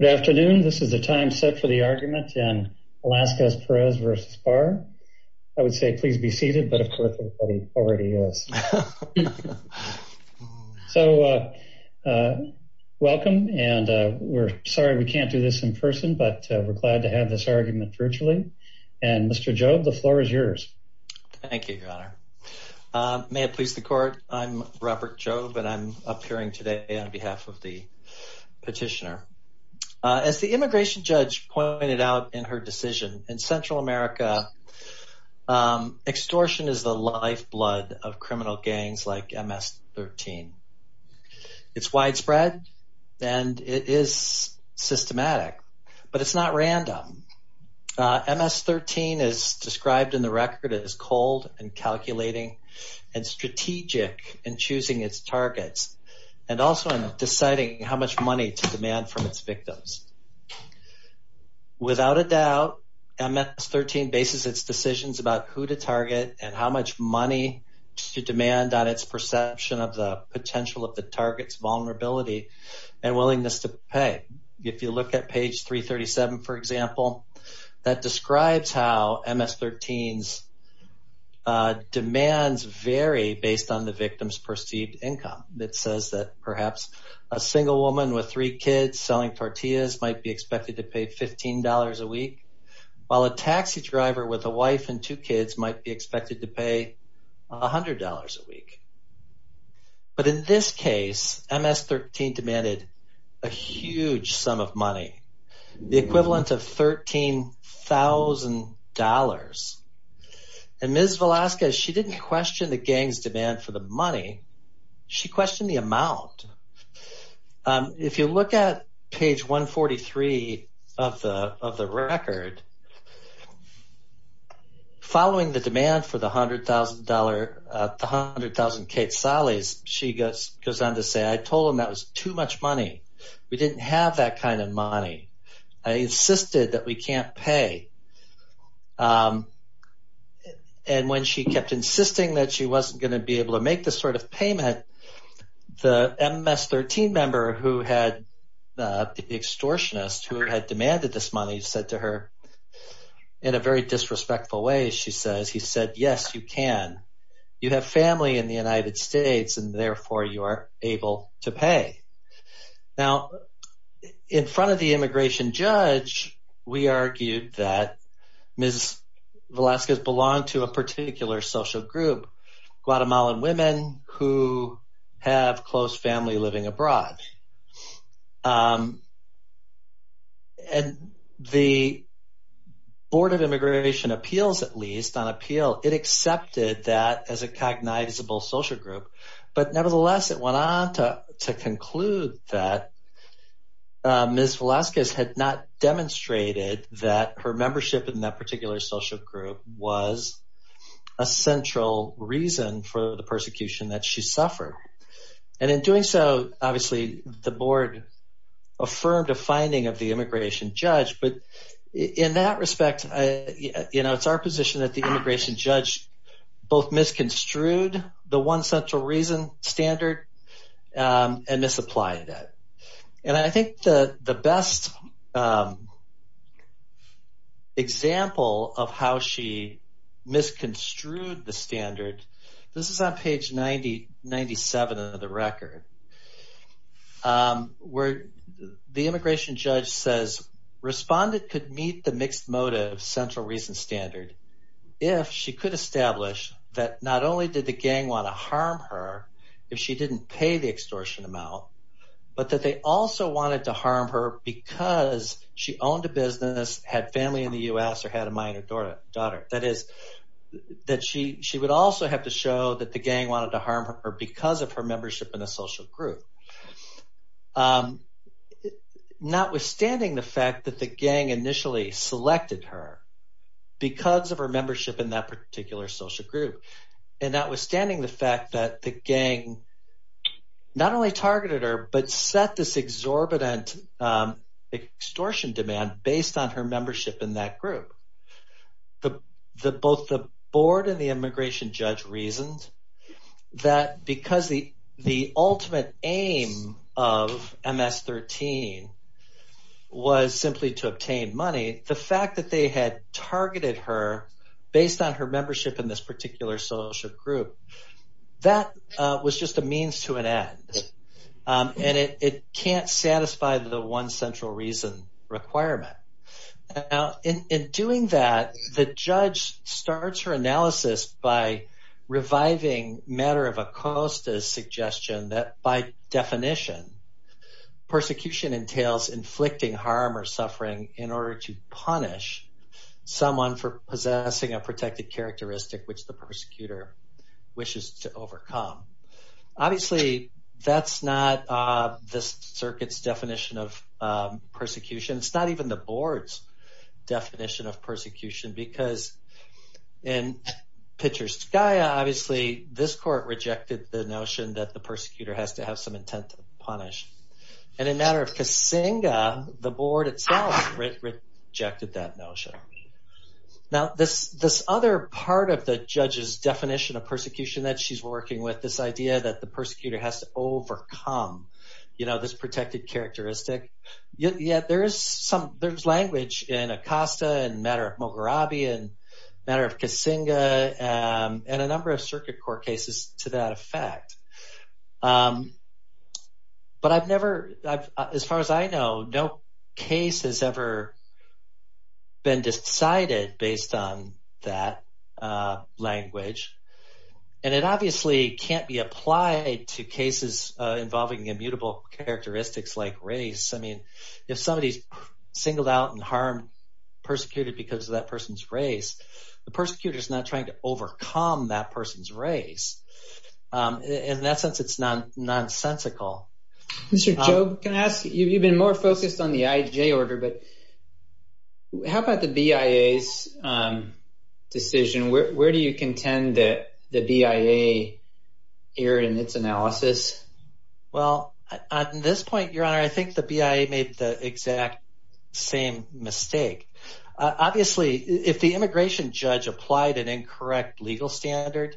Good afternoon. This is the time set for the argument in Velasquez-Perez v. Barr. I would say please be seated, but of course everybody already is. So, welcome, and we're sorry we can't do this in person, but we're glad to have this argument virtually. And Mr. Jobe, the floor is yours. Thank you, Your Honor. May it please the Court, I'm Robert Jobe, and I'm appearing today on behalf of the petitioner. As the immigration judge pointed out in her decision, in Central America, extortion is the lifeblood of criminal gangs like MS-13. It's widespread, and it is systematic, but it's not random. MS-13 is described in the record as cold and calculating and strategic in choosing its targets, and also in deciding how much money to demand from its victims. Without a doubt, MS-13 bases its decisions about who to target and how much money to demand on its perception of the potential of the target's vulnerability and willingness to pay. If you look at page 337, for example, that describes how MS-13's demands vary based on the victim's perceived income. It says that perhaps a single woman with three kids selling tortillas might be expected to pay $15 a week, while a taxi driver with a wife and two kids might be expected to pay $100 a week. But in this case, MS-13 demanded a huge sum of money, the equivalent of $13,000. And Ms. Velasquez, she didn't question the gang's demand for the money, she questioned the amount. If you look at page 143 of the record, following the demand for the $100,000 quetzales, she goes on to say, I told him that was too much money. We didn't have that kind of money. I insisted that we can't pay. And when she kept insisting that she wasn't going to be able to make this sort of payment, the MS-13 member, the extortionist who had demanded this money, he said to her, in a very disrespectful way, he said, yes, you can. You have family in the United States, and therefore you are able to pay. Now, in front of the immigration judge, we argued that Ms. Velasquez belonged to a particular social group, Guatemalan women who have close family living abroad. And the Board of Immigration Appeals, at least, on appeal, it accepted that as a cognizable social group. But nevertheless, it went on to conclude that Ms. Velasquez had not demonstrated that her membership in that particular social group was a central reason for the persecution that she suffered. And in doing so, obviously, the board affirmed a finding of the immigration judge. But in that respect, it's our position that the immigration judge both misconstrued the one central reason standard and misapplied that. And I think the best example of how she misconstrued the standard, this is on page 97 of the record, where the immigration judge says, Respondent could meet the mixed motive central reason standard if she could establish that not only did the gang want to harm her if she didn't pay the extortion amount, but that they also wanted to harm her because she owned a business, had family in the U.S., or had a minor daughter. That is, that she would also have to show that the gang wanted to harm her because of her membership in a social group. Notwithstanding the fact that the gang initially selected her because of her membership in that particular social group, and notwithstanding the fact that the gang not only targeted her but set this exorbitant extortion demand based on her membership in that group, both the board and the immigration judge reasoned that because the ultimate aim of MS-13 was simply to obtain money, the fact that they had targeted her based on her membership in this particular social group, that was just a means to an end. And it can't satisfy the one central reason requirement. Now, in doing that, the judge starts her analysis by reviving Matter of Acosta's suggestion that by definition, persecution entails inflicting harm or suffering in order to punish someone for possessing a protected characteristic which the persecutor wishes to overcome. Obviously, that's not this circuit's definition of persecution. It's not even the board's definition of persecution because in Pitcher's SCIA, obviously this court rejected the notion that the persecutor has to have some intent to punish. And in Matter of Kasinga, the board itself rejected that notion. Now, this other part of the judge's definition of persecution that she's working with, this idea that the persecutor has to overcome this protected characteristic, yeah, there is language in Acosta and Matter of Mogherabi and Matter of Kasinga and a number of circuit court cases to that effect. But I've never – as far as I know, no case has ever been decided based on that language. And it obviously can't be applied to cases involving immutable characteristics like race. I mean if somebody is singled out and harmed, persecuted because of that person's race, the persecutor is not trying to overcome that person's race. In that sense, it's nonsensical. Mr. Jobe, can I ask – you've been more focused on the IJ order, but how about the BIA's decision? Where do you contend that the BIA erred in its analysis? Well, at this point, Your Honor, I think the BIA made the exact same mistake. Obviously, if the immigration judge applied an incorrect legal standard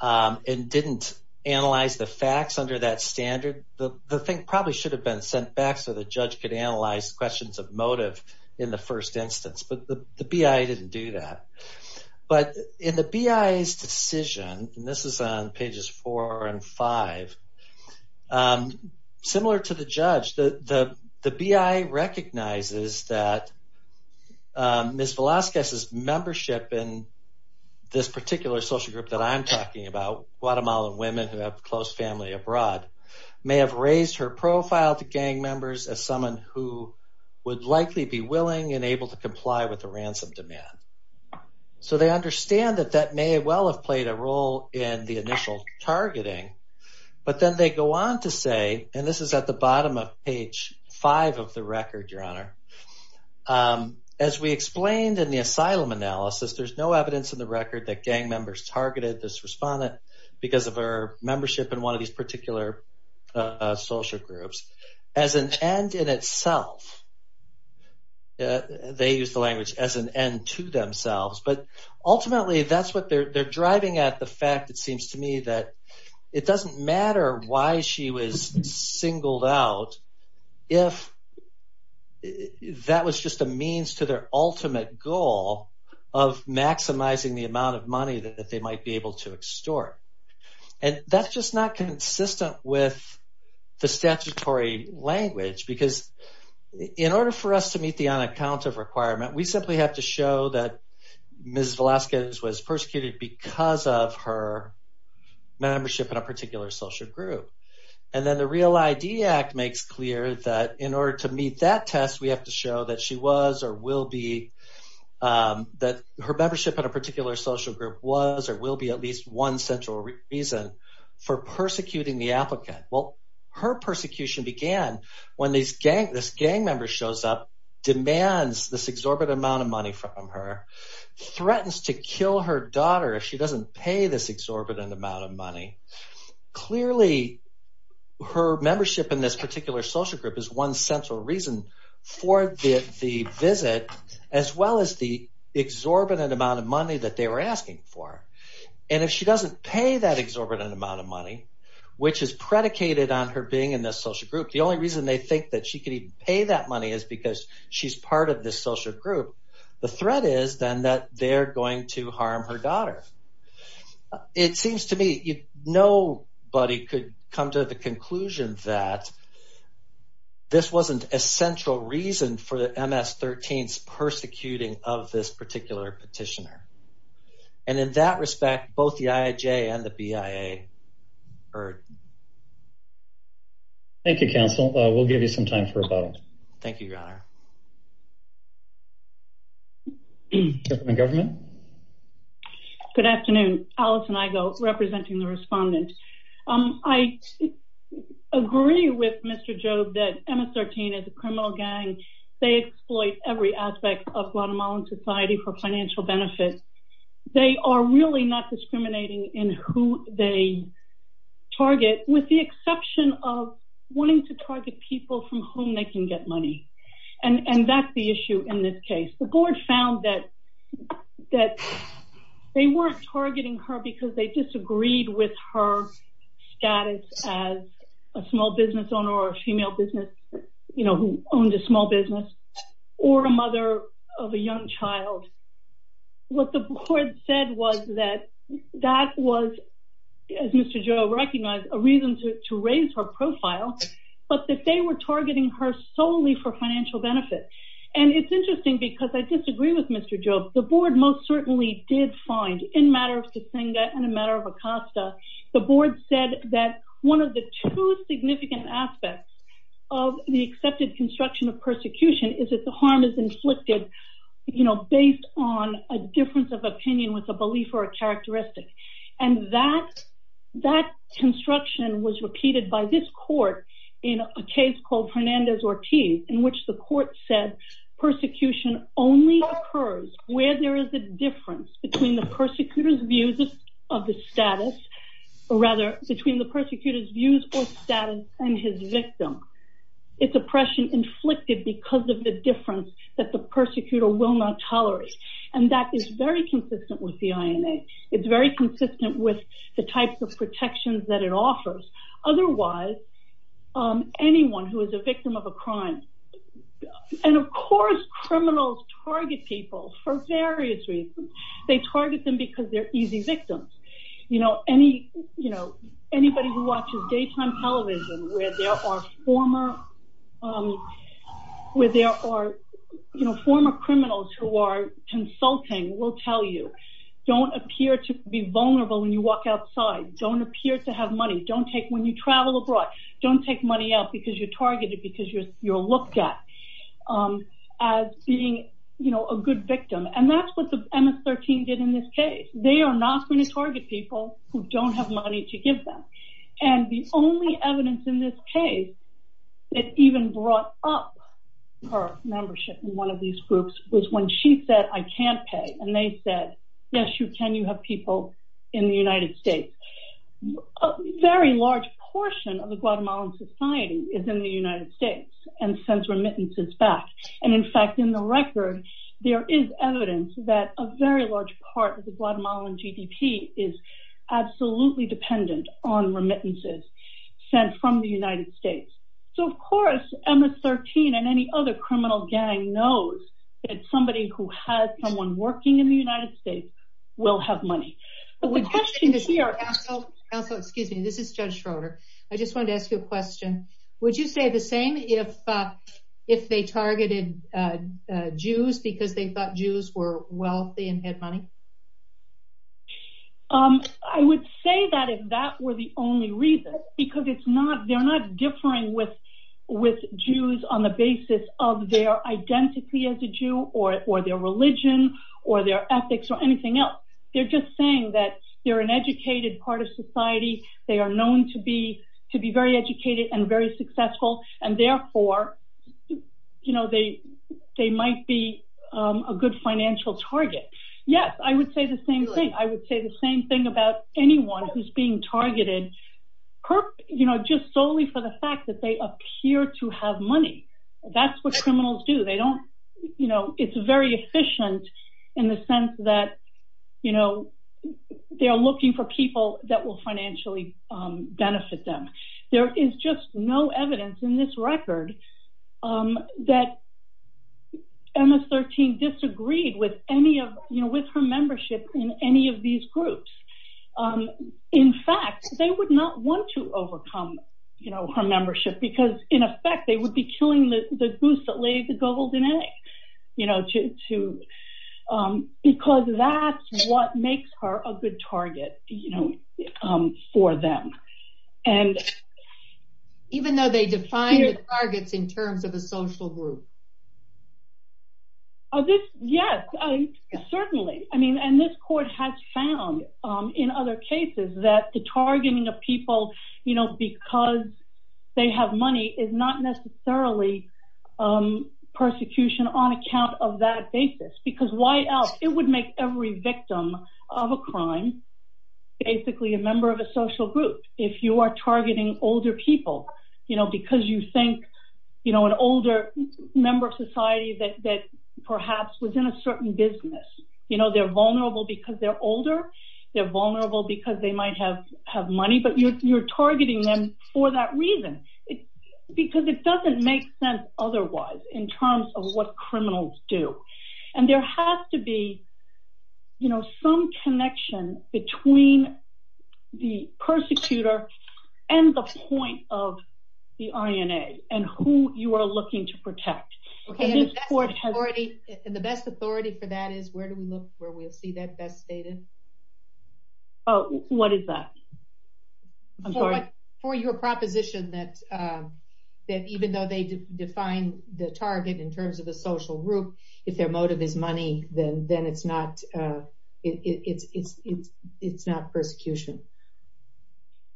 and didn't analyze the facts under that standard, the thing probably should have been sent back so the judge could analyze questions of motive in the first instance. But the BIA didn't do that. But in the BIA's decision, and this is on pages four and five, similar to the judge, the BIA recognizes that Ms. Velazquez's membership in this particular social group that I'm talking about, Guatemalan women who have close family abroad, may have raised her profile to gang members as someone who would likely be willing and able to comply with the ransom demand. So they understand that that may well have played a role in the initial targeting. But then they go on to say, and this is at the bottom of page five of the record, Your Honor, as we explained in the asylum analysis, there's no evidence in the record that gang members targeted this respondent because of her membership in one of these particular social groups. As an end in itself, they use the language as an end to themselves. But ultimately, that's what they're driving at, the fact, it seems to me, that it doesn't matter why she was singled out, if that was just a means to their ultimate goal of maximizing the amount of money that they might be able to extort. And that's just not consistent with the statutory language, because in order for us to meet the on-account of requirement, we simply have to show that Ms. Velazquez was persecuted because of her membership in a particular social group. And then the REAL ID Act makes clear that in order to meet that test, we have to show that she was or will be, that her membership in a particular social group was or will be at least one central reason for persecuting the applicant. Well, her persecution began when this gang member shows up, demands this exorbitant amount of money from her, threatens to kill her daughter if she doesn't pay this exorbitant amount of money. Clearly, her membership in this particular social group is one central reason for the visit, as well as the exorbitant amount of money that they were asking for. And if she doesn't pay that exorbitant amount of money, which is predicated on her being in this social group, the only reason they think that she could even pay that money is because she's part of this social group, the threat is then that they're going to harm her daughter. It seems to me nobody could come to the conclusion that this wasn't a central reason for the MS-13's persecuting of this particular petitioner. And in that respect, both the IAJ and the BIA heard. Thank you, Counsel. We'll give you some time for rebuttal. Thank you, Your Honor. Governor? Good afternoon. Alison Igo, representing the respondent. I agree with Mr. Jobe that MS-13 is a criminal gang. They exploit every aspect of Guatemalan society for financial benefits. They are really not discriminating in who they target, with the exception of wanting to target people from whom they can get money. And that's the issue in this case. The board found that they weren't targeting her because they disagreed with her status as a small business owner, or a female business, you know, who owned a small business, or a mother of a young child. What the board said was that that was, as Mr. Jobe recognized, a reason to raise her profile, but that they were targeting her solely for financial benefit. And it's interesting because I disagree with Mr. Jobe. The board most certainly did find, in a matter of Tsitsinga and in a matter of Acosta, the board said that one of the two significant aspects of the accepted construction of persecution is that the harm is inflicted, you know, based on a difference of opinion with a belief or a characteristic. And that construction was repeated by this court in a case called Hernandez-Ortiz, in which the court said persecution only occurs where there is a difference between the persecutor's views of the status, or rather, between the persecutor's views or status and his victim. It's oppression inflicted because of the difference that the persecutor will not tolerate. And that is very consistent with the INA. It's very consistent with the types of protections that it offers. Otherwise, anyone who is a victim of a crime, and of course, criminals target people for various reasons. They target them because they're easy victims. You know, anybody who watches daytime television where there are former criminals who are consulting will tell you, don't appear to be vulnerable when you walk outside. Don't appear to have money. When you travel abroad, don't take money out because you're targeted, because you're looked at as being a good victim. And that's what the MS-13 did in this case. They are not going to target people who don't have money to give them. And the only evidence in this case that even brought up her membership in one of these groups was when she said, I can't pay. And they said, yes, you can, you have people in the United States. A very large portion of the Guatemalan society is in the United States and sends remittances back. And in fact, in the record, there is evidence that a very large part of the Guatemalan GDP is absolutely dependent on remittances sent from the United States. So, of course, MS-13 and any other criminal gang knows that somebody who has someone working in the United States will have money. But the question here... Counsel, excuse me, this is Judge Schroeder. I just wanted to ask you a question. Would you say the same if they targeted Jews because they thought Jews were wealthy and had money? I would say that if that were the only reason. Because they're not differing with Jews on the basis of their identity as a Jew or their religion or their ethics or anything else. They're just saying that they're an educated part of society. They are known to be very educated and very successful. And therefore, they might be a good financial target. Yes, I would say the same thing. I would say the same thing about anyone who's being targeted just solely for the fact that they appear to have money. That's what criminals do. It's very efficient in the sense that they are looking for people that will financially benefit them. There is just no evidence in this record that MS-13 disagreed with her membership in any of these groups. In fact, they would not want to overcome her membership because, in effect, they would be killing the goose that laid the golden egg. Because that's what makes her a good target for them. Even though they define the targets in terms of a social group? Yes, certainly. And this court has found in other cases that the targeting of people because they have money is not necessarily persecution on account of that basis. Because why else? It would make every victim of a crime basically a member of a social group. If you are targeting older people because you think an older member of society that perhaps was in a certain business. They're vulnerable because they're older. They're vulnerable because they might have money. But you're targeting them for that reason because it doesn't make sense otherwise in terms of what criminals do. And there has to be some connection between the persecutor and the point of the INA and who you are looking to protect. And the best authority for that is where do we look where we'll see that best stated? What is that? For your proposition that even though they define the target in terms of a social group, if their motive is money, then it's not persecution.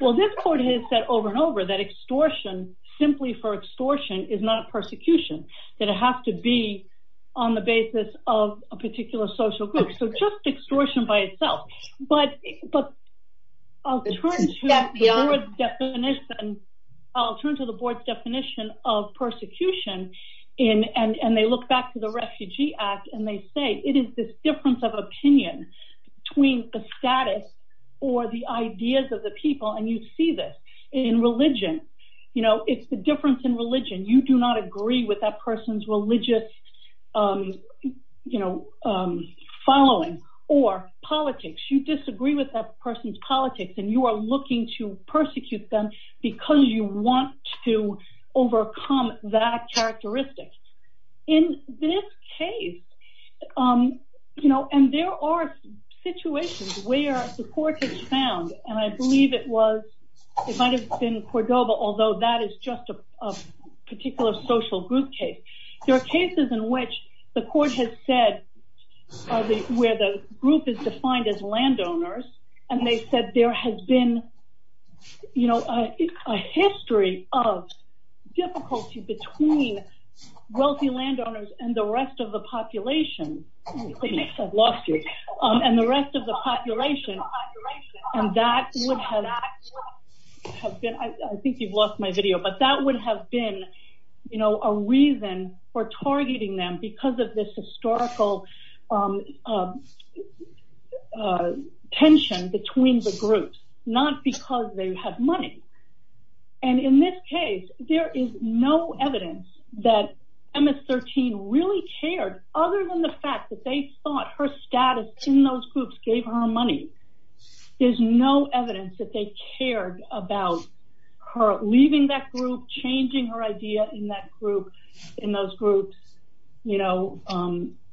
Well, this court has said over and over that extortion simply for extortion is not persecution. That it has to be on the basis of a particular social group. So just extortion by itself. But I'll turn to the board's definition of persecution. And they look back to the Refugee Act and they say it is this difference of opinion between the status or the ideas of the people. And you see this in religion. You know, it's the difference in religion. And you do not agree with that person's religious, you know, following or politics. You disagree with that person's politics and you are looking to persecute them because you want to overcome that characteristic. In this case, you know, and there are situations where the court has found, and I believe it was, it might have been Cordova, although that is just a particular social group case. There are cases in which the court has said, where the group is defined as landowners, and they said there has been, you know, a history of difficulty between wealthy landowners and the rest of the population. And the rest of the population, and that would have been, I think you've lost my video, but that would have been, you know, a reason for targeting them because of this historical tension between the groups, not because they have money. And in this case, there is no evidence that MS-13 really cared, other than the fact that they thought her status in those groups gave her money. There's no evidence that they cared about her leaving that group, changing her idea in that group, in those groups, you know,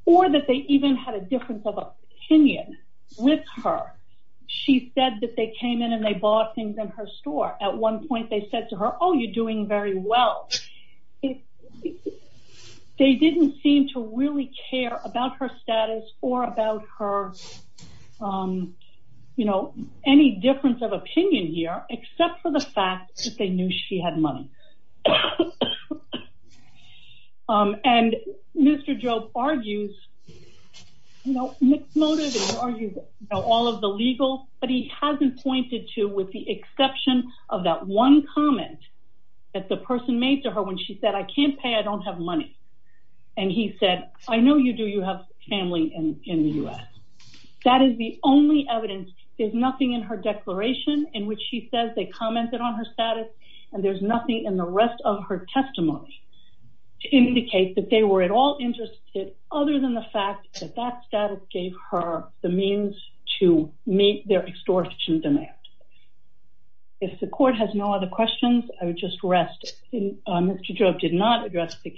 or that they even had a difference of opinion with her. She said that they came in and they bought things in her store. At one point, they said to her, oh, you're doing very well. They didn't seem to really care about her status or about her, you know, any difference of opinion here, except for the fact that they knew she had money. And Mr. Jobe argues, you know, all of the legal, but he hasn't pointed to, with the exception of that one comment that the person made to her when she said, I can't pay, I don't have money. And he said, I know you do, you have family in the U.S. That is the only evidence. There's nothing in her declaration in which she says they commented on her status, and there's nothing in the rest of her testimony to indicate that they were at all interested, other than the fact that that status gave her the means to meet their extortion demand. If the court has no other questions, I would just rest. Mr. Jobe did not address the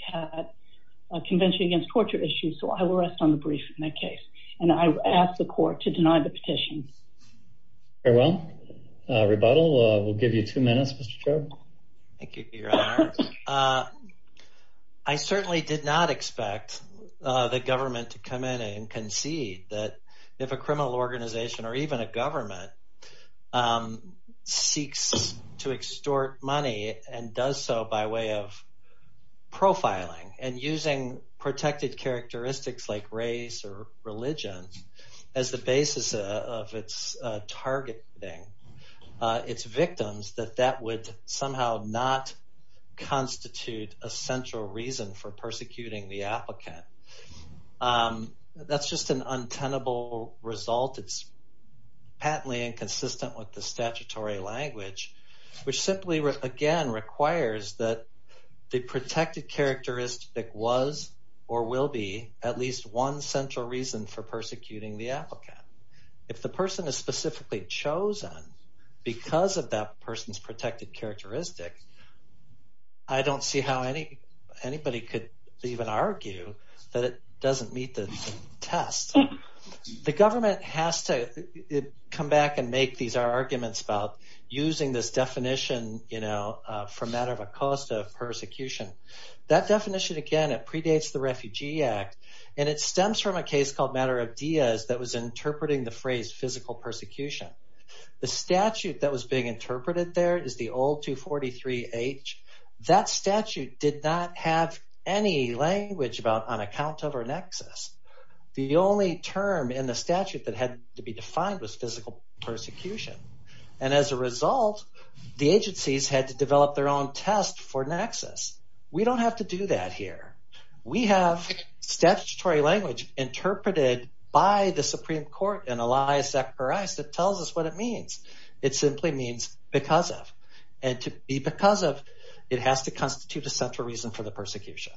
Convention Against Torture issue, so I will rest on the brief in that case, and I ask the court to deny the petition. Very well. Rebuttal will give you two minutes, Mr. Jobe. Thank you, Your Honor. I certainly did not expect the government to come in and concede that if a criminal organization, or even a government, seeks to extort money and does so by way of profiling and using protected characteristics like race or religion as the basis of its targeting its victims, that that would somehow not concede. That would not constitute a central reason for persecuting the applicant. That's just an untenable result. It's patently inconsistent with the statutory language, which simply, again, requires that the protected characteristic was or will be at least one central reason for persecuting the applicant. If the person is specifically chosen because of that person's protected characteristic, I don't see how anybody could even argue that it doesn't meet the test. The government has to come back and make these arguments about using this definition, you know, for matter of a cause of persecution. That definition, again, it predates the Refugee Act, and it stems from a case called Matter of Diaz that was interpreting the phrase physical persecution. The statute that was being interpreted there is the old 243H. That statute did not have any language about on account of or nexus. The only term in the statute that had to be defined was physical persecution, and as a result, the agencies had to develop their own test for nexus. We don't have to do that here. We have statutory language interpreted by the Supreme Court and Elias Zacharias that tells us what it means. It simply means because of, and to be because of, it has to constitute a central reason for the persecution.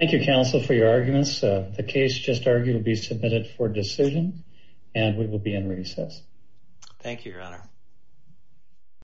Thank you, counsel, for your arguments. The case, just argued, will be submitted for decision, and we will be in recess. Thank you, Your Honor.